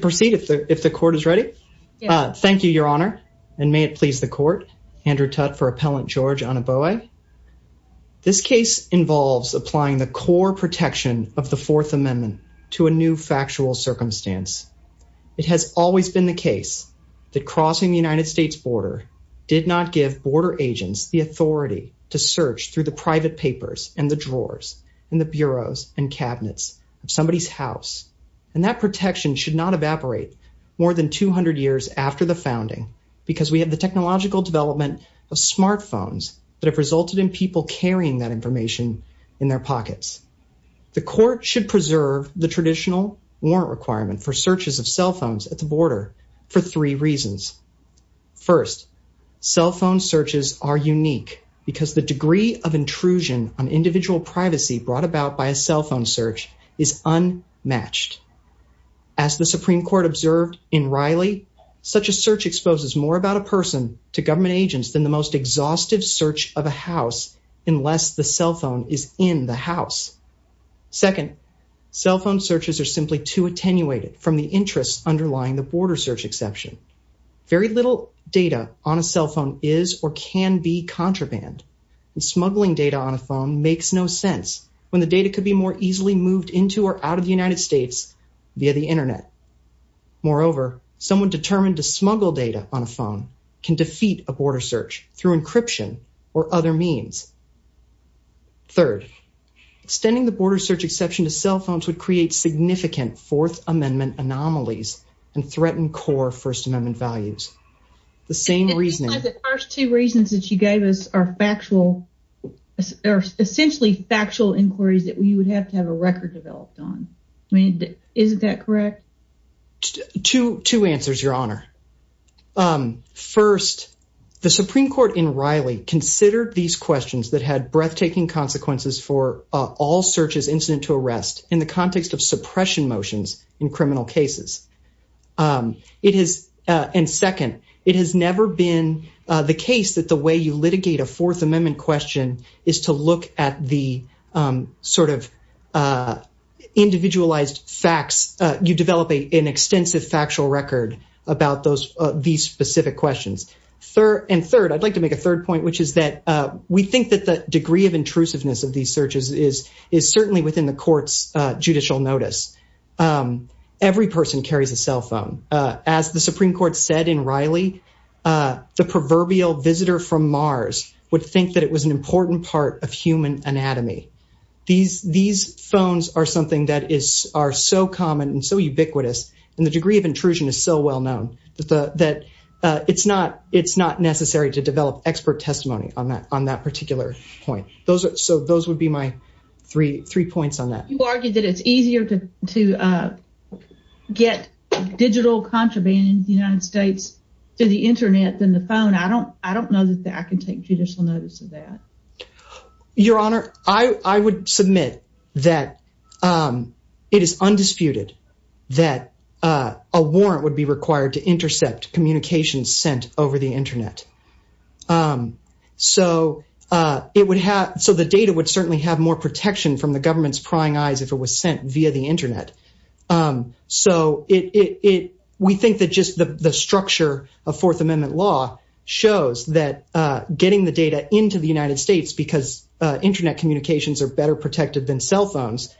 Proceed if the if the court is ready. Thank you, Your Honor. And may it please the court, Andrew Tutte for Appellant George Anibowei. This case involves applying the core protection of the Fourth Amendment to a new factual circumstance. It has always been the case that crossing the United States border did not give border agents the authority to search through the private papers and the drawers and the bureaus and cabinets of somebody's house. And that protection should not evaporate more than 200 years after the founding because we have the technological development of smartphones that have resulted in people carrying that information in their pockets. The court should preserve the traditional warrant requirement for searches of cell phones at the border for three reasons. First, cell phone searches are unique because the degree of intrusion on individual privacy brought about by a cell phone search is unmatched. As the Supreme Court observed in Riley, such a search exposes more about a person to government agents than the most exhaustive search of a house unless the cell phone is in the house. Second, cell phone searches are simply too attenuated from the interests underlying the border search exception. Very little data on a cell phone is or can be contraband and smuggling data on a phone makes no sense when the data could be more easily moved into or out of the United States via the internet. Moreover, someone determined to smuggle data on a phone can defeat a border search through encryption or other means. Third, extending the border search exception to cell phones would create significant Fourth Amendment anomalies and threaten core First Amendment values. The same reasoning. The first two reasons that you gave us are factual, are essentially factual inquiries that we would have to have a record developed on. Is that correct? Two answers, Your Honor. First, the Supreme Court in Riley considered these questions that had breathtaking consequences for all searches incident to arrest in the context of suppression motions in criminal cases. And second, it has never been the case that the way litigate a Fourth Amendment question is to look at the sort of individualized facts. You develop an extensive factual record about these specific questions. And third, I'd like to make a third point, which is that we think that the degree of intrusiveness of these searches is certainly within the court's judicial notice. Every person carries a cell phone. As the Supreme Court said in Riley, the proverbial visitor from Mars would think that it was an important part of human anatomy. These phones are something that is are so common and so ubiquitous. And the degree of intrusion is so well known that it's not necessary to develop expert testimony on that particular point. So those would be my three points on that. You argued that it's easier to get digital contraband in the United States to the internet than the phone. I don't know that I can take judicial notice of that. Your Honor, I would submit that it is undisputed that a warrant would be required to intercept communications sent over the internet. So the data would certainly have more protection from the government's prying eyes if it was sent via the internet. So we think that just the structure of Fourth Amendment law shows that getting the data into the United States because internet communications are better protected than cell phones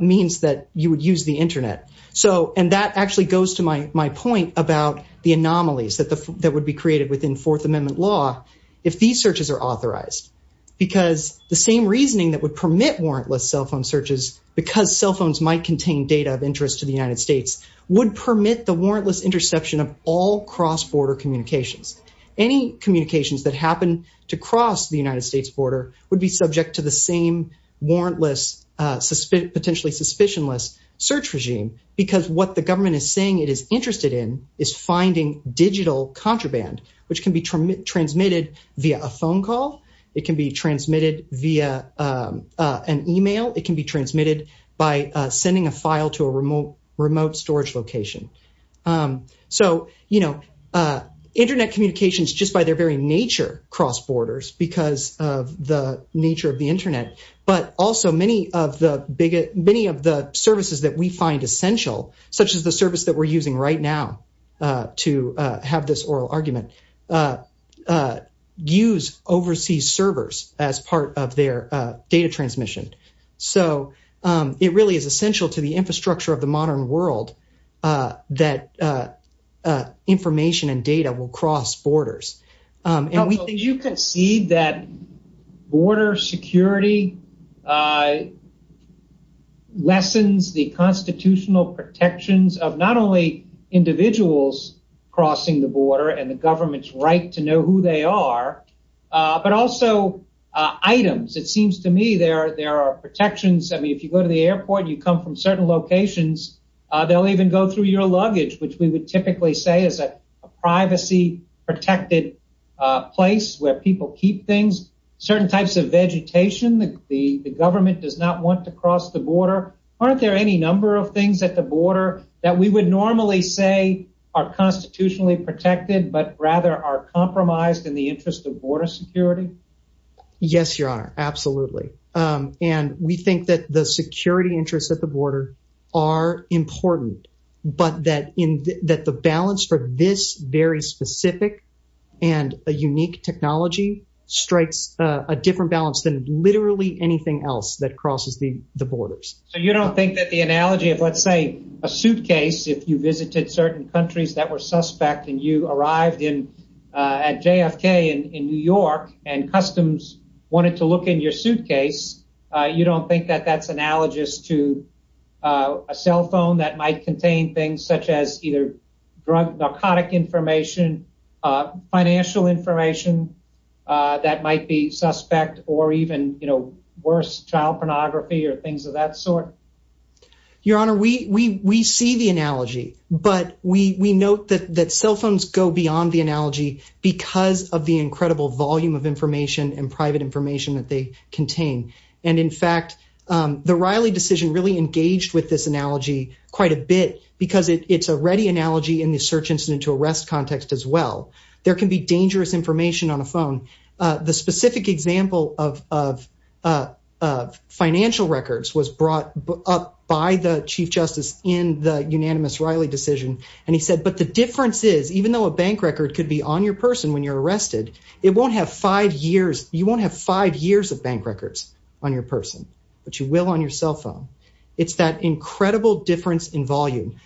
means that you would use the internet. And that actually goes to my point about the anomalies that would be created within Fourth Amendment law if these searches are authorized. Because the same reasoning that would permit warrantless cell phone searches, because cell phones might contain data of interest to the United States, would permit the warrantless interception of all cross-border communications. Any communications that happen to cross the United States border would be subject to the same warrantless, potentially suspicionless search regime. Because what the government is saying it is interested in is finding digital contraband, which can be transmitted via a phone call, it can be transmitted via an email, it can be transmitted by sending a file to a remote storage location. So, you know, internet communications, just by their very nature, cross borders because of the nature of the internet. But also many of the services that we find essential, such as the service that we're using right now to have this oral argument, use overseas servers as part of their data transmission. So, it really is essential to the infrastructure of the modern world that information and data will cross borders. And you can see that border security lessens the constitutional protections of not only individuals crossing the border and the government's right to know who they are, but also items. It seems to me there are protections. I mean, if you go to the airport, you come from certain locations, they'll even go through your luggage, which we would typically say is a privacy-protected place where people keep things. Certain types of vegetation, the government does not want to cross the border. Aren't there any number of things at the border that we would normally say are constitutionally protected, but rather are compromised in the interest of border security? Yes, your honor. Absolutely. And we think that the security interests at the border are important, but that the balance for this very specific and a unique technology strikes a different balance than literally anything else that crosses the border. If you visited certain countries that were suspect and you arrived at JFK in New York and customs wanted to look in your suitcase, you don't think that that's analogous to a cell phone that might contain things such as either drug, narcotic information, financial information that might be suspect or even, you know, worse child pornography or things of that sort? Your honor, we see the analogy, but we note that cell phones go beyond the analogy because of the incredible volume of information and private information that they contain. And in fact, the Riley decision really engaged with this analogy quite a bit because it's a ready analogy in the search incident to arrest context as well. There can be dangerous information on the phone. The specific example of financial records was brought up by the chief justice in the unanimous Riley decision. And he said, but the difference is even though a bank record could be on your person when you're arrested, it won't have five years. You won't have five years of bank records on your person, but you will on your cell phone. It's that incredible difference in volume.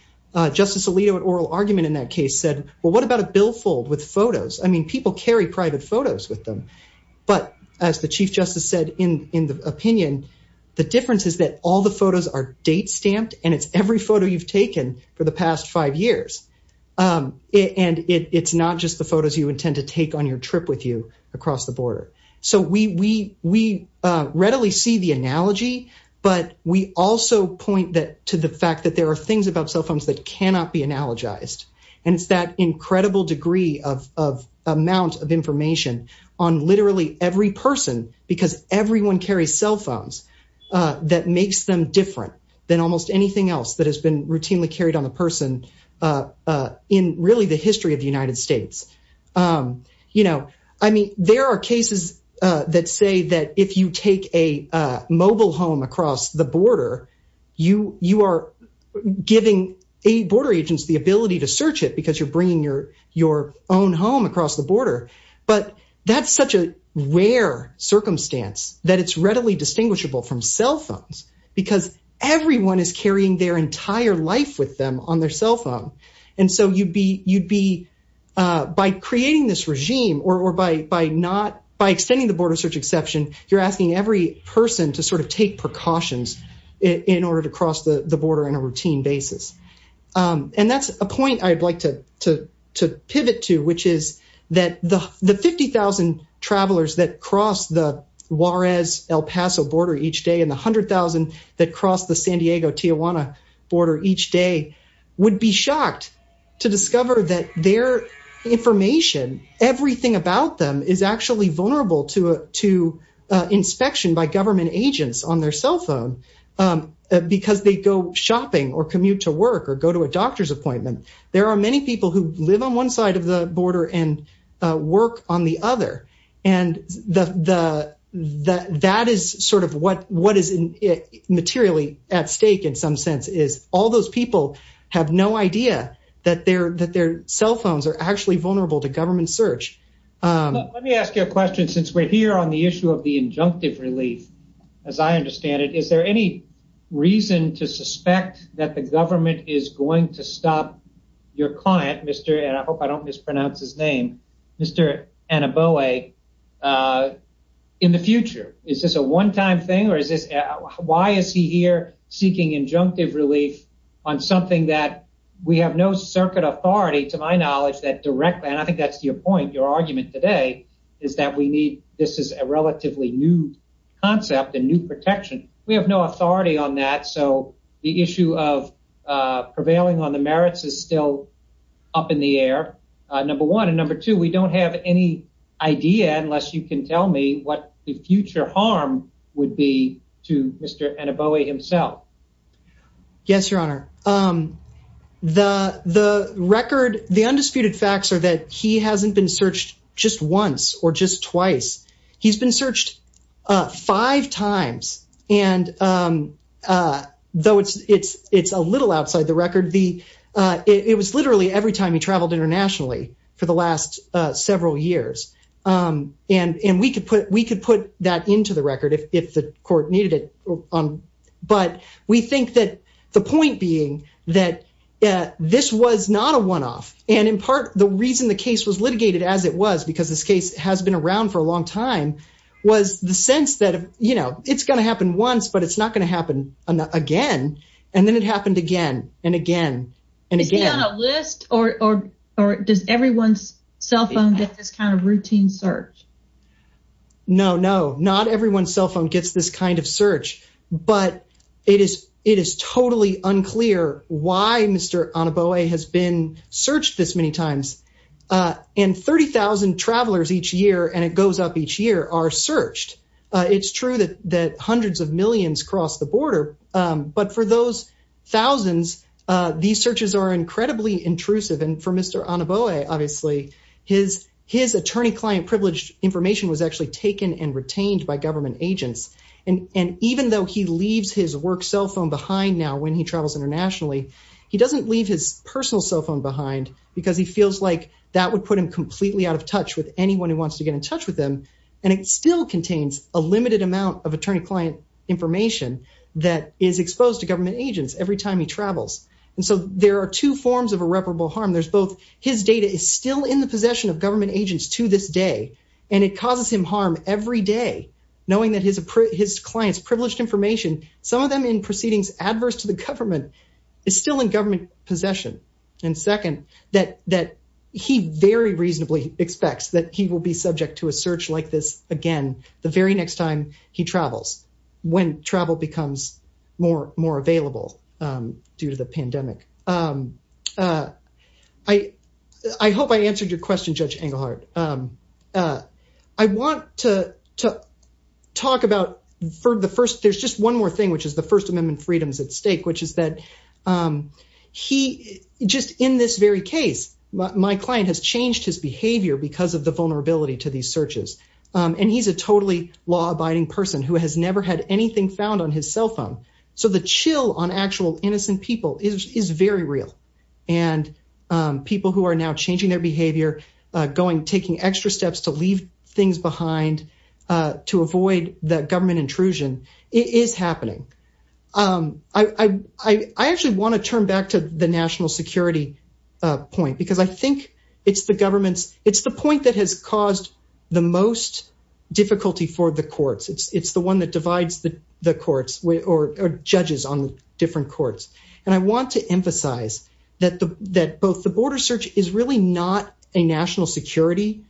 Justice Alito at oral argument in that case said, well, what about a billfold with photos? I mean, people carry private photos with them, but as the chief justice said in the opinion, the difference is that all the photos are date stamped and it's every photo you've taken for the past five years. And it's not just the photos you intend to take on your trip with you across the border. So we readily see the analogy, but we also point that to the fact that there are things about cell phones that amount of information on literally every person because everyone carries cell phones that makes them different than almost anything else that has been routinely carried on the person in really the history of the United States. You know, I mean, there are cases that say that if you take a mobile home across the border, you are giving a border agents the ability to search it because you're bringing your own home across the border. But that's such a rare circumstance that it's readily distinguishable from cell phones because everyone is carrying their entire life with them on their cell phone. And so you'd be by creating this regime or by not by extending the border search exception, you're asking every person to sort of take precautions in order to pivot to which is that the 50,000 travelers that cross the Juarez-El Paso border each day and the 100,000 that cross the San Diego-Tijuana border each day would be shocked to discover that their information, everything about them is actually vulnerable to inspection by government agents on their cell phone because they go shopping or commute to work or go to a doctor's appointment. There are many people who live on one side of the border and work on the other. And that is sort of what is materially at stake in some sense is all those people have no idea that their cell phones are actually vulnerable to government search. Let me ask you a question since we're here on the issue of the injunctive relief. As I understand it, is there any reason to suspect that the your client, Mr. and I hope I don't mispronounce his name, Mr. Anaboe in the future? Is this a one-time thing or is this why is he here seeking injunctive relief on something that we have no circuit authority to my knowledge that directly and I think that's your point your argument today is that we need this is a relatively new concept and new protection. We have no authority on that so the issue of prevailing on the merits is still up in the air. Number one and number two, we don't have any idea unless you can tell me what the future harm would be to Mr. Anaboe himself. Yes, your honor. The record, the undisputed facts are that he hasn't been searched just once or just twice. He's been searched five times and though it's a little outside the record, it was literally every time he traveled internationally for the last several years and we could put that into the record if the court needed it but we think that the point being that this was not a one-off and in part the reason the case was litigated as it was because this case has been around for a long time was the sense that you know it's going to happen once but it's not going to happen again and then it happened again and again and again. Is he on a list or does everyone's cell phone get this kind of routine search? No, not everyone's cell phone gets this kind of search but it is totally unclear why Mr. Anaboe has been searched this many times and 30,000 travelers each year and it goes up each year are searched. It's true that hundreds of millions cross the border but for those thousands, these searches are incredibly intrusive and for Mr. Anaboe obviously, his attorney-client privileged information was actually taken and retained by government agents and even though he leaves his work cell phone behind now when he travels internationally, he doesn't leave his personal cell phone behind because he feels like that would put him completely out of touch with anyone who wants to get in touch with him and it still contains a limited amount of attorney-client information that is exposed to government agents every time he travels and so there are two forms of irreparable harm. There's every day knowing that his client's privileged information, some of them in proceedings adverse to the government, is still in government possession and second, that he very reasonably expects that he will be subject to a search like this again the very next time he travels when travel becomes more available due to the pandemic. I hope I answered your question, Judge Engelhardt. I want to talk about for the first, there's just one more thing which is the First Amendment freedoms at stake which is that he just in this very case, my client has changed his behavior because of the vulnerability to these searches and he's a totally law-abiding person who has never had anything found on his cell phone so the chill on actual innocent people is very real and people who are now changing their behavior, taking extra steps to leave things behind to avoid the government intrusion, it is happening. I actually want to turn back to the national security point because I think it's the government's, it's the point that has caused the most difficulty for the courts. It's the one that divides the courts or judges on different courts and I want to emphasize that both the border search is really not a national security,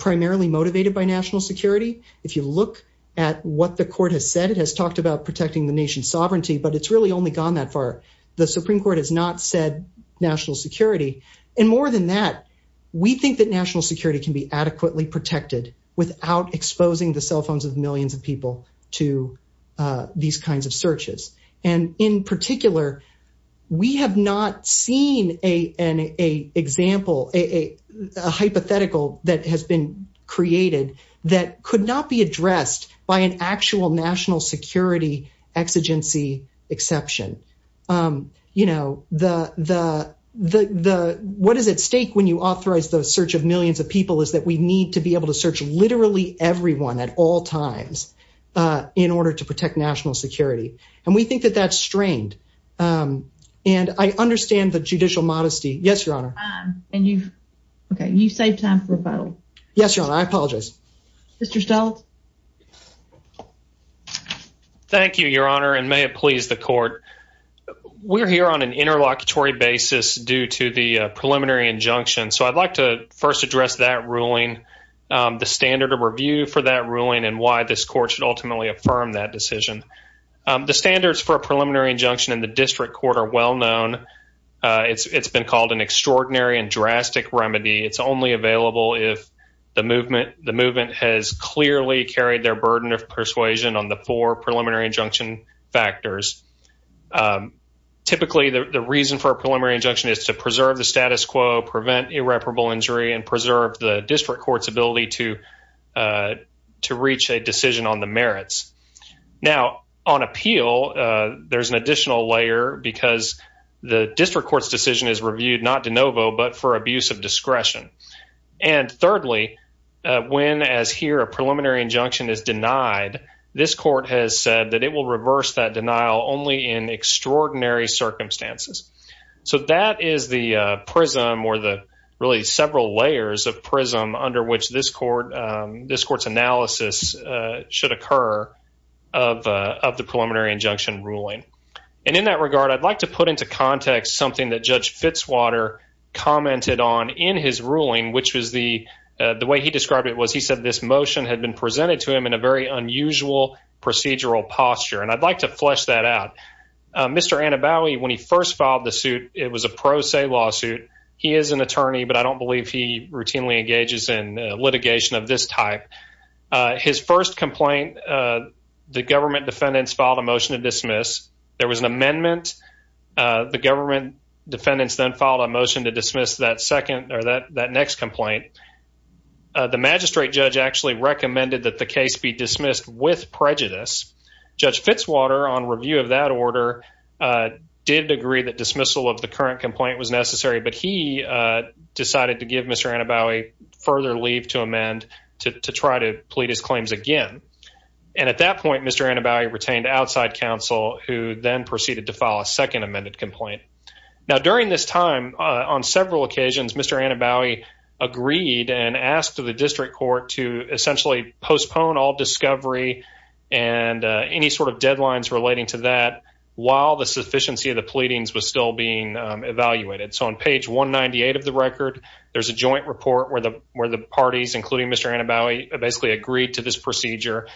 primarily motivated by national security. If you look at what the court has said, it has talked about protecting the nation's sovereignty but it's really only gone that far. The Supreme Court has not said national security and more than that, we think that national security can be adequately protected without exposing the cell phones of millions of people to these kinds of searches and in particular, we have not seen an example, a hypothetical that has been created that could not be addressed by an actual national security exigency exception. What is at stake when you authorize the search of millions of people is that we need to be able to search literally everyone at all times in order to protect national security and we think that that's strained and I understand the judicial modesty. Yes, your honor. And you've, okay, you saved time for rebuttal. Yes, your honor. I apologize. Mr. Steltz. Thank you, your honor and may it please the court. We're here on an interlocutory basis due to the review for that ruling and why this court should ultimately affirm that decision. The standards for a preliminary injunction in the district court are well known. It's been called an extraordinary and drastic remedy. It's only available if the movement has clearly carried their burden of persuasion on the four preliminary injunction factors. Typically, the reason for a preliminary injunction is to preserve the status quo, prevent irreparable injury and preserve the district court's ability to reach a decision on the merits. Now, on appeal, there's an additional layer because the district court's decision is reviewed not de novo but for abuse of discretion. And thirdly, when as here a preliminary injunction is denied, this court has said that it will reverse that denial only in extraordinary circumstances. So that is the prism or the really several layers of prism under which this court's analysis should occur of the preliminary injunction ruling. And in that regard, I'd like to put into context something that Judge Fitzwater commented on in his ruling, which was the way he described it was he said this motion had been presented to him in a very unusual procedural posture. And I'd like to flesh that out. Mr. Anabowi, when he first filed the suit, it was a pro se lawsuit. He is an attorney, but I don't believe he routinely engages in litigation of this type. His first complaint, the government defendants filed a motion to dismiss. There was an amendment. The government defendants then filed a motion to dismiss that second or that Judge Fitzwater, on review of that order, did agree that dismissal of the current complaint was necessary. But he decided to give Mr. Anabowi further leave to amend to try to plead his claims again. And at that point, Mr. Anabowi retained outside counsel who then proceeded to file a second amended complaint. Now, during this time, on several occasions, Mr. Anabowi agreed and asked the district court to essentially postpone all discovery and any sort of deadlines relating to that while the sufficiency of the pleadings was still being evaluated. So on page 198 of the record, there's a joint report where the parties, including Mr. Anabowi, basically agreed to this procedure.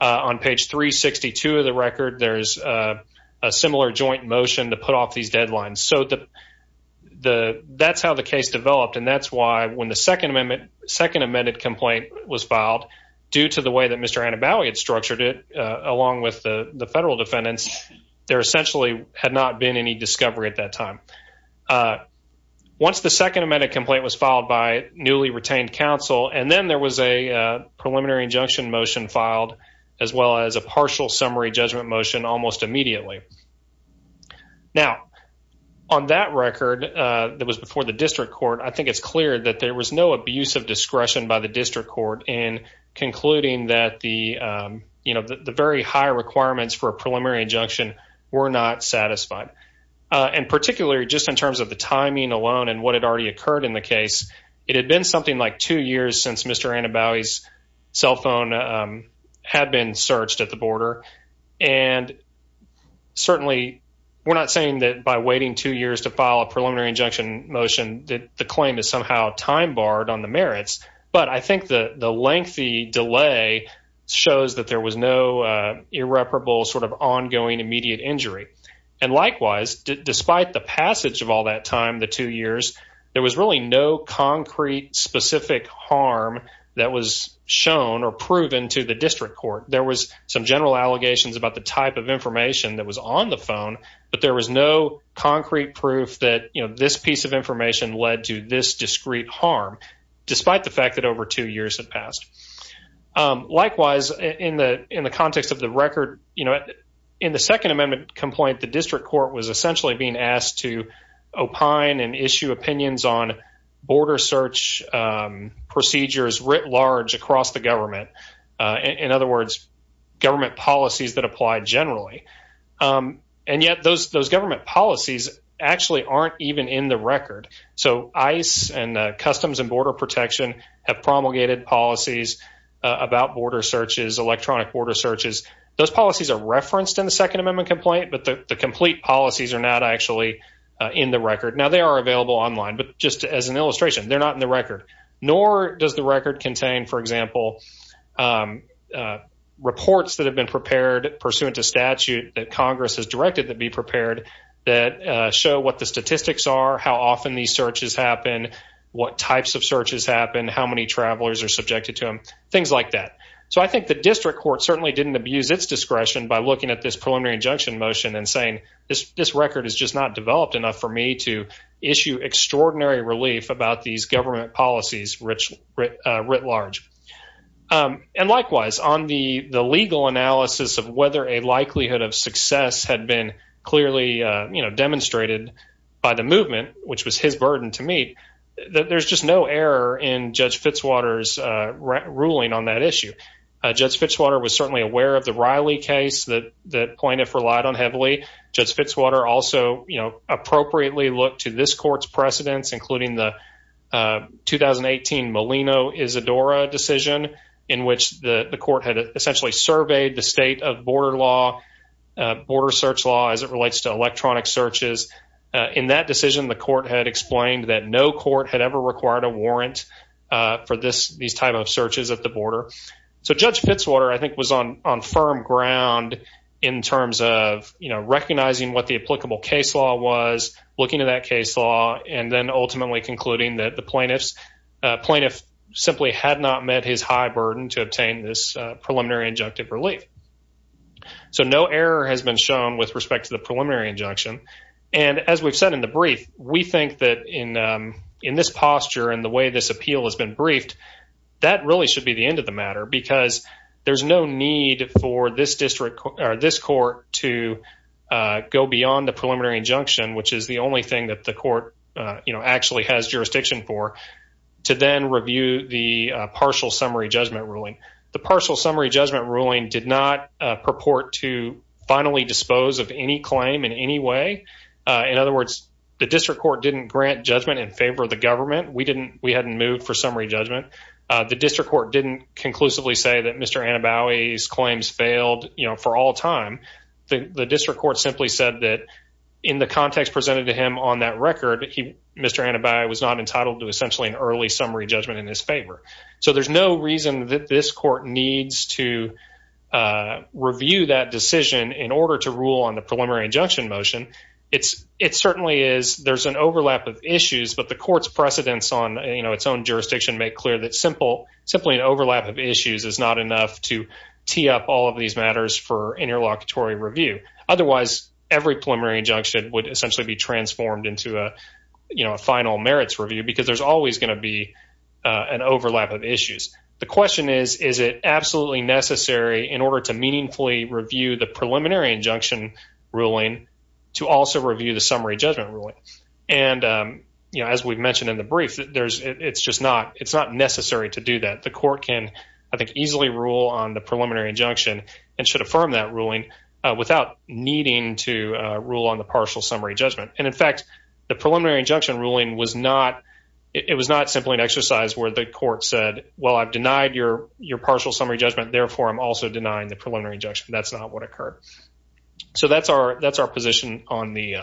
On page 362 of the record, there's a similar joint motion to put off these deadlines. So that's how the case developed, and that's why when the second amendment second amended complaint was filed, due to the way that Mr. Anabowi had structured it, along with the federal defendants, there essentially had not been any discovery at that time. Once the second amended complaint was filed by newly retained counsel, and then there was a preliminary injunction motion filed, as well as a partial summary judgment motion almost immediately. Now, on that record, that was before the district court, I think it's clear that there was no abuse of discretion by the district court in concluding that the, you know, the very high requirements for a preliminary injunction were not satisfied. And particularly just in terms of the timing alone and what had already occurred in the case, it had been something like two years since Mr. Anabowi's cell phone had been searched at the border. And certainly, we're not saying that by waiting two years to file a preliminary injunction motion that the claim is somehow time barred on the merits, but I think the lengthy delay shows that there was no irreparable sort of ongoing immediate injury. And likewise, despite the passage of all that time, the two years, there was really no concrete specific harm that was shown or proven to the district court. There was some general allegations about the type of information that was on the phone, but there was no concrete proof that, you know, this piece of information led to this discrete harm, despite the fact that over two years had passed. Likewise, in the context of the record, you know, in the second on border search procedures writ large across the government, in other words, government policies that apply generally. And yet, those government policies actually aren't even in the record. So, ICE and Customs and Border Protection have promulgated policies about border searches, electronic border searches. Those policies are referenced in the Second Amendment complaint, but the complete policies are not actually in the record. Now, they are online, but just as an illustration, they're not in the record, nor does the record contain, for example, reports that have been prepared pursuant to statute that Congress has directed to be prepared that show what the statistics are, how often these searches happen, what types of searches happen, how many travelers are subjected to them, things like that. So, I think the district court certainly didn't abuse its discretion by looking at this preliminary injunction motion and saying, this record is just not developed enough for me to issue extraordinary relief about these government policies writ large. And likewise, on the legal analysis of whether a likelihood of success had been clearly, you know, demonstrated by the movement, which was his burden to meet, there's just no error in Judge Fitzwater's ruling on that relied on heavily. Judge Fitzwater also, you know, appropriately looked to this court's precedents, including the 2018 Molino-Isadora decision, in which the court had essentially surveyed the state of border law, border search law, as it relates to electronic searches. In that decision, the court had explained that no court had ever required a warrant for these type of searches at the border. So, Judge Fitzwater, I think, was on firm ground in terms of, you know, recognizing what the applicable case law was, looking at that case law, and then ultimately concluding that the plaintiff's plaintiff simply had not met his high burden to obtain this preliminary injunctive relief. So, no error has been shown with respect to the preliminary injunction. And as we've said in the brief, we think that in this posture and the way this appeal has been briefed, that really should be the end of the matter, because there's no need for this district or this court to go beyond the preliminary injunction, which is the only thing that the court, you know, actually has jurisdiction for, to then review the partial summary judgment ruling. The partial summary judgment ruling did not purport to finally dispose of any claim in any way. In other words, the district court didn't grant judgment in favor of the government. We didn't, we hadn't moved for the district court didn't conclusively say that Mr. Anabowi's claims failed, you know, for all time. The district court simply said that in the context presented to him on that record, Mr. Anabowi was not entitled to essentially an early summary judgment in his favor. So, there's no reason that this court needs to review that decision in order to rule on the preliminary injunction motion. It's, it certainly is, there's an overlap of issues, but the court's precedence on, you know, its own jurisdiction make clear that simple, simply an overlap of issues is not enough to tee up all of these matters for interlocutory review. Otherwise, every preliminary injunction would essentially be transformed into a, you know, a final merits review, because there's always going to be an overlap of issues. The question is, is it absolutely necessary in order to meaningfully review the preliminary injunction ruling to also review the summary judgment ruling? And, you know, as we've mentioned in the brief, there's, it's just not, it's not necessary to do that. The court can, I think, easily rule on the preliminary injunction and should affirm that ruling without needing to rule on the partial summary judgment. And in fact, the preliminary injunction ruling was not, it was not simply an exercise where the court said, well, I've denied your partial summary judgment, therefore I'm also denying the preliminary injunction. That's not what occurred. So that's our, that's our position on the,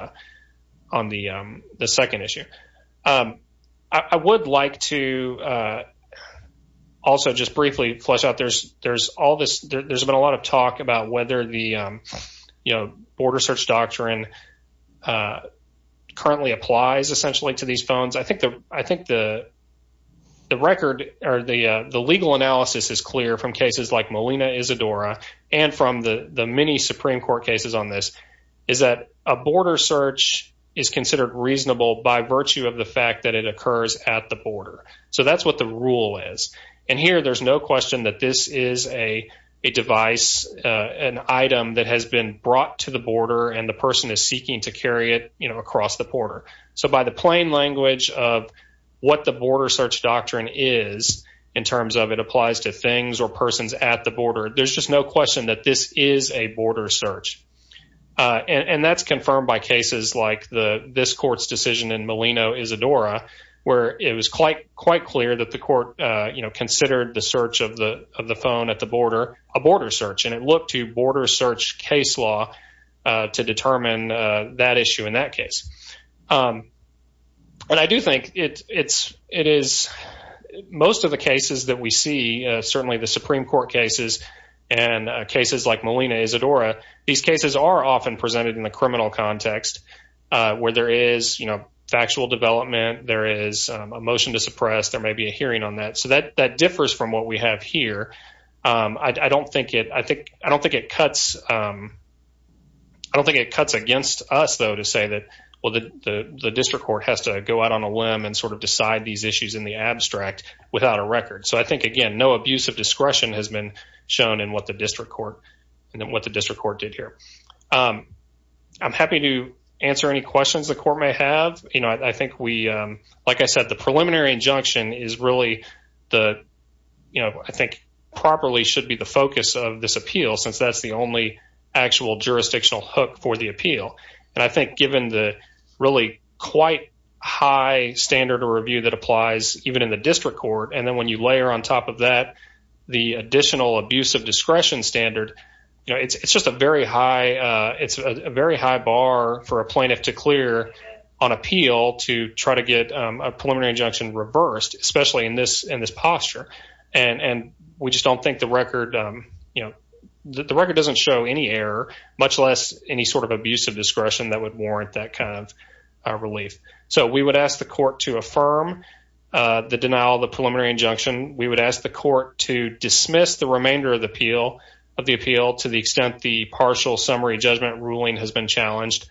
on the second issue. I would like to also just briefly flesh out, there's all this, there's been a lot of talk about whether the, you know, border search doctrine currently applies essentially to these phones. I think the, I think the record or the legal analysis is clear from cases like Molina Isadora and from the many Supreme Court cases on this is that a border search is considered reasonable by virtue of the fact that it occurs at the border. So that's what the rule is. And here, there's no question that this is a, a device, an item that has been brought to the border and the person is seeking to carry it, you know, across the border. So by the plain language of what the border search doctrine is in terms of it applies to things or persons at the border, there's just no question that this is a border search. And that's confirmed by cases like the, this court's decision in Molina Isadora where it was quite, quite clear that the court, you know, considered the search of the, of the phone at the border, a border search. And it looked to border search case law to determine that issue in that case. But I do think it's, it is most of the cases that we see, certainly the Supreme Court cases and cases like Molina Isadora, these cases are often presented in the criminal context where there is, you know, factual development, there is a motion to suppress, there may be a hearing on that. So that, that differs from what we have here. I don't think it, I think, I don't think it cuts, I don't think it cuts against us though to say that, well, the, the district court has to go out on a limb and sort of decide these issues in the abstract without a record. So I know abuse of discretion has been shown in what the district court, and then what the district court did here. I'm happy to answer any questions the court may have. You know, I think we, like I said, the preliminary injunction is really the, you know, I think properly should be the focus of this appeal since that's the only actual jurisdictional hook for the appeal. And I think given the really quite high standard of review that applies even in the district court, and then you layer on top of that the additional abuse of discretion standard, you know, it's just a very high, it's a very high bar for a plaintiff to clear on appeal to try to get a preliminary injunction reversed, especially in this, in this posture. And, and we just don't think the record, you know, the record doesn't show any error, much less any sort of abuse of discretion that would warrant that kind of relief. So we would ask the court to affirm the denial of the preliminary injunction. We would ask the court to dismiss the remainder of the appeal, of the appeal to the extent the partial summary judgment ruling has been challenged.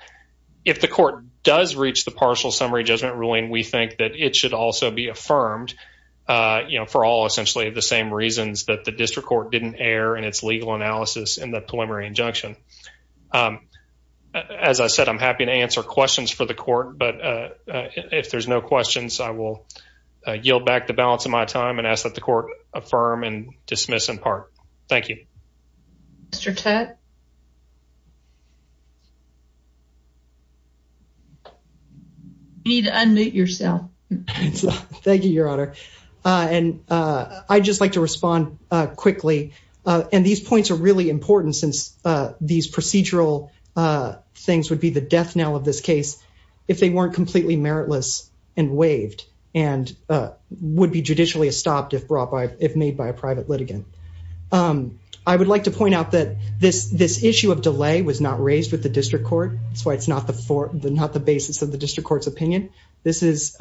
If the court does reach the partial summary judgment ruling, we think that it should also be affirmed, you know, for all essentially the same reasons that the district court didn't err in its legal analysis in the preliminary injunction. As I said, I'm happy to answer questions for the court, but if there's no questions, I will yield back the balance of my time and ask that the court affirm and dismiss in part. Thank you. Mr. Tutt, you need to unmute yourself. Thank you, Your Honor. And I'd just like to respond quickly. And these points are really important since these procedural things would be the death knell of this case if they weren't completely meritless and waived and would be judicially stopped if brought by, if made by a private litigant. I would like to point out that this, this issue of delay was not raised with the district court. That's why it's not the, not the basis of the district court's opinion. This is,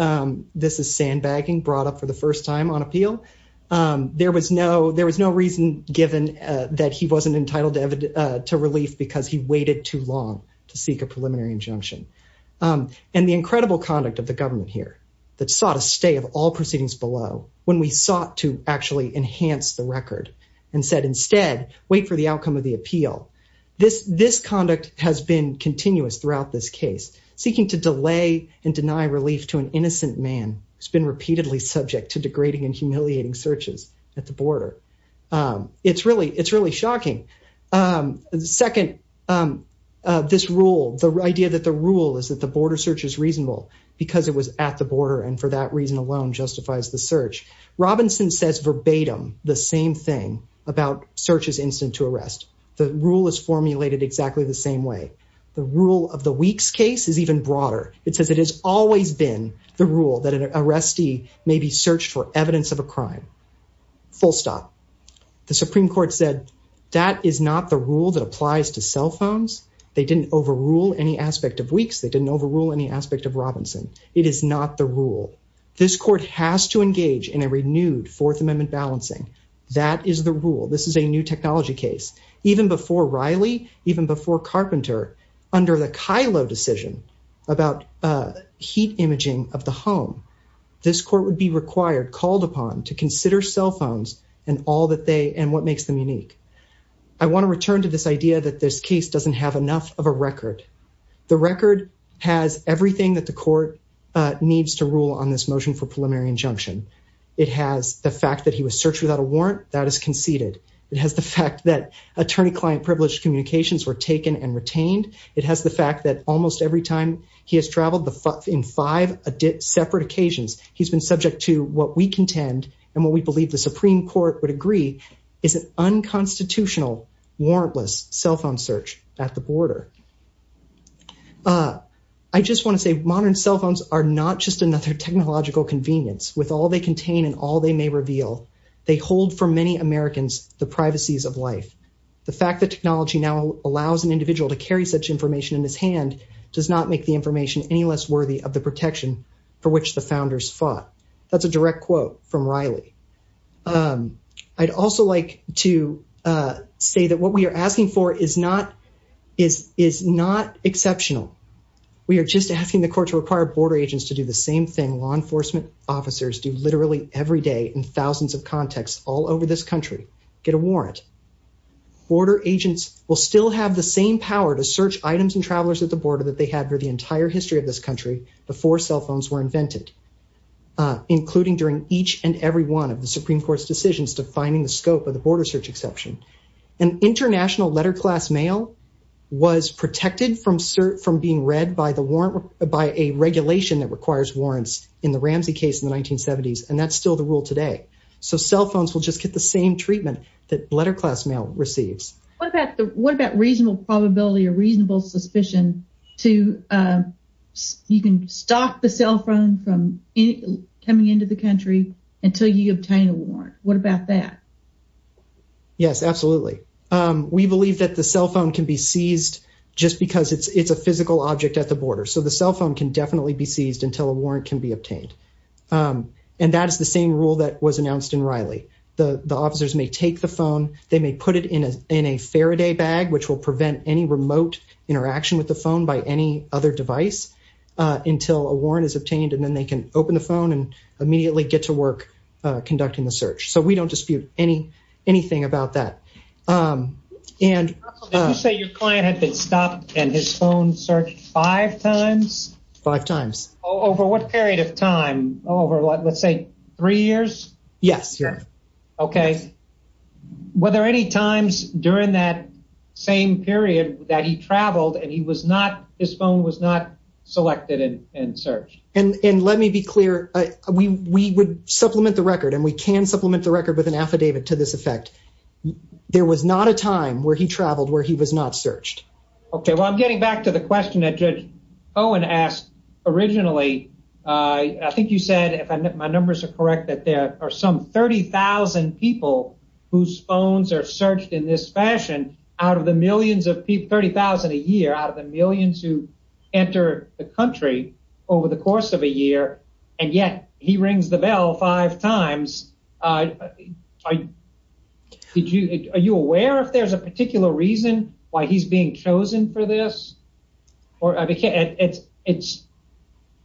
this is sandbagging brought up for the first time on appeal. There was no, there was no reason given that he wasn't entitled to relief because he waited too long to seek a preliminary injunction. And the incredible conduct of the government here that sought a stay of all proceedings below when we sought to actually enhance the record and said, instead, wait for the outcome of the appeal. This, this conduct has been continuous throughout this case, seeking to delay and deny relief to an innocent man who's been repeatedly subject to degrading and humiliating searches at the border. It's really, it's really shocking. Second, this rule, the idea that the rule is that the border search is reasonable because it was at the border and for that reason alone justifies the search. Robinson says verbatim the same thing about searches instant to arrest. The rule is formulated exactly the same way. The rule of the Weeks case is even broader. It says it has always been the rule that an arrestee may be searched for evidence of a crime. Full stop. The Supreme Court said that is not the rule that applies to cell phones. They didn't overrule any aspect of Weeks. They didn't overrule any aspect of Robinson. It is not the rule. This court has to engage in a renewed Fourth Amendment balancing. That is the rule. This is a new technology case. Even before Riley, even before Carpenter, under the Kylo decision about heat imaging of the home, this court would be required, called upon to consider cell phones and all that they and what makes them unique. I want to return to this idea that this case doesn't have enough of a record. The record has everything that the court needs to rule on this motion for preliminary injunction. It has the fact that he was searched without a warrant. That is conceded. It has the fact that attorney-client privileged communications were taken and retained. It has the fact that almost every time he has traveled in five separate occasions, he's been subject to what we contend and what we believe the Supreme Court would agree is an unconstitutional warrantless cell phone search at the border. I just want to say modern cell phones are not just another technological convenience. With all they contain and all they may reveal, they hold for many Americans the privacies of life. The fact that technology now allows an individual to carry such information in his hand does not make the information any less worthy of the protection for which the founders fought. That's a direct quote from Riley. I'd also like to say that what we are asking for is not is is not exceptional. We are just asking the court to require border agents to do the same thing law enforcement officers do literally every day in thousands of contexts all over this country. Get a warrant. Border agents will still have the same power to search items and travelers at the border that they had for the entire history of this country before cell phones were invented, including during each and every one of the Supreme Court's decisions defining the scope of the border search exception. An international letter class mail was protected from being read by a regulation that requires warrants in the Ramsey case in the 1970s, and that's still the rule today. So cell phones will just get the same treatment that letter class mail receives. What about reasonable probability or reasonable suspicion to you can stop the cell phone from coming into the country until you obtain a warrant? What about that? Yes, absolutely. We believe that the cell phone can be seized just because it's a physical object at the border, so the cell phone can definitely be seized until a warrant can be obtained. And that is the same rule that was announced in Riley. The officers may take the phone. They may put it in a Faraday bag, which will prevent any remote interaction with the phone by any other device until a warrant is obtained, and then they can open the phone and we don't dispute anything about that. You say your client had been stopped and his phone searched five times? Five times. Over what period of time? Let's say three years? Yes. Okay. Were there any times during that same period that he traveled and his phone was not selected and searched? And let me be clear, we would supplement the record and we can supplement the record with an affidavit to this effect. There was not a time where he traveled where he was not searched. Okay. Well, I'm getting back to the question that Judge Owen asked originally. I think you said, if my numbers are correct, that there are some 30,000 people whose phones are the country over the course of a year, and yet he rings the bell five times. Are you aware if there's a particular reason why he's being chosen for this?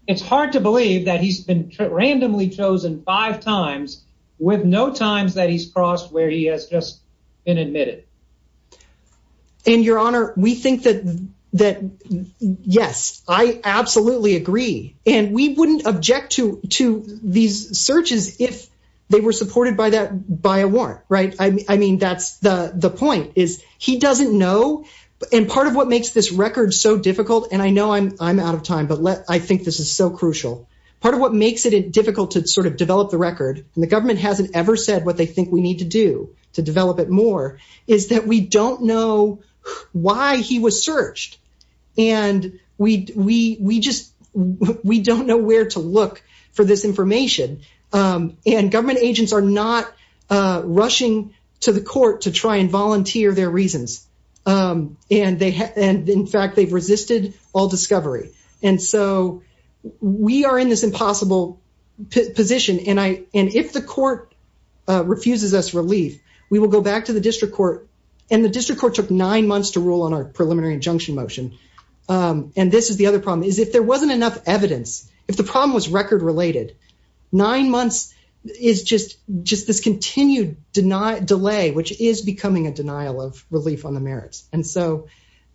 It's hard to believe that he's been randomly chosen five times with no times that he's admitted. And your honor, we think that, yes, I absolutely agree. And we wouldn't object to these searches if they were supported by a warrant, right? I mean, that's the point, is he doesn't know. And part of what makes this record so difficult, and I know I'm out of time, but I think this is so crucial. Part of what makes it difficult to sort of develop the record, and the government hasn't ever said what they think we need to do to develop it more, is that we don't know why he was searched. And we don't know where to look for this information. And government agents are not rushing to the court to try and volunteer their reasons. And in fact, they've resisted all discovery. And so we are in this impossible position, and if the court refuses us relief, we will go back to the district court. And the district court took nine months to rule on our preliminary injunction motion. And this is the other problem, is if there wasn't enough evidence, if the problem was record related, nine months is just this continued delay, which is becoming a denial of relief on the merits. And so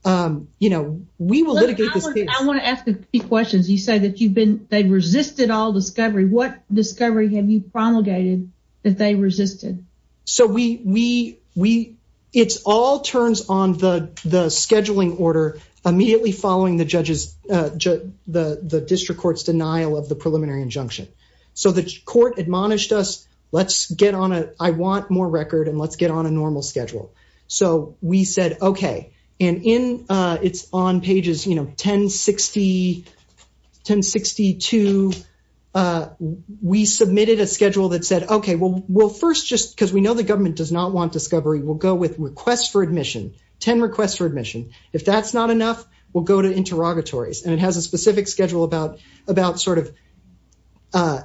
we will litigate this case. I want to ask a few questions. You say that they resisted all discovery. What discovery have you promulgated that they resisted? It all turns on the scheduling order immediately following the district court's denial of the preliminary injunction. So the court admonished us, I want more record and let's get on a normal We submitted a schedule that said, okay, well, first, just because we know the government does not want discovery, we'll go with requests for admission, 10 requests for admission. If that's not enough, we'll go to interrogatories. And it has a specific schedule about sort of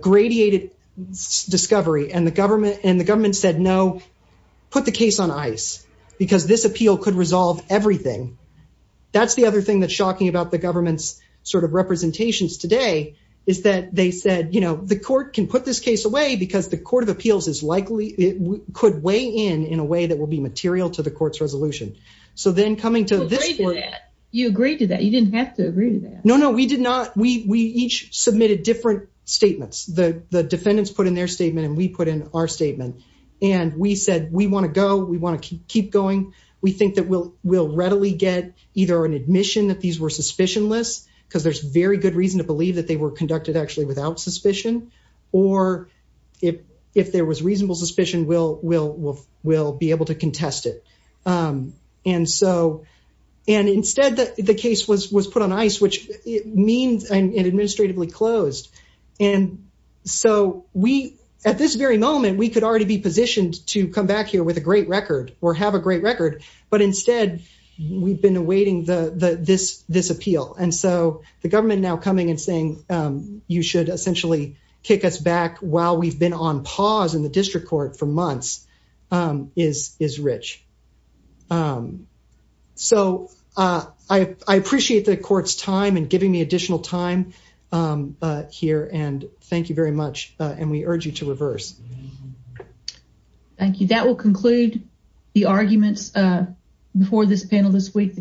gradiated discovery. And the government said, no, put the case on ice, because this appeal could resolve everything. That's the other thing that's shocking about the government's representations today is that they said, the court can put this case away because the Court of Appeals could weigh in, in a way that will be material to the court's resolution. So then coming to this court- You agreed to that. You didn't have to agree to that. No, no, we did not. We each submitted different statements. The defendants put in their statement and we put in our statement. And we said, we want to go, we want to keep going. We think that we'll very good reason to believe that they were conducted actually without suspicion, or if there was reasonable suspicion, we'll be able to contest it. And instead, the case was put on ice, which means it administratively closed. And so at this very moment, we could already be positioned to come back here with a great record or have a great record. But instead, we've been waiting this appeal. And so the government now coming and saying, you should essentially kick us back while we've been on pause in the district court for months is rich. So I appreciate the court's time and giving me additional time here. And thank you very much. And we urge you to reverse. Thank you. That will conclude the arguments before this panel this week.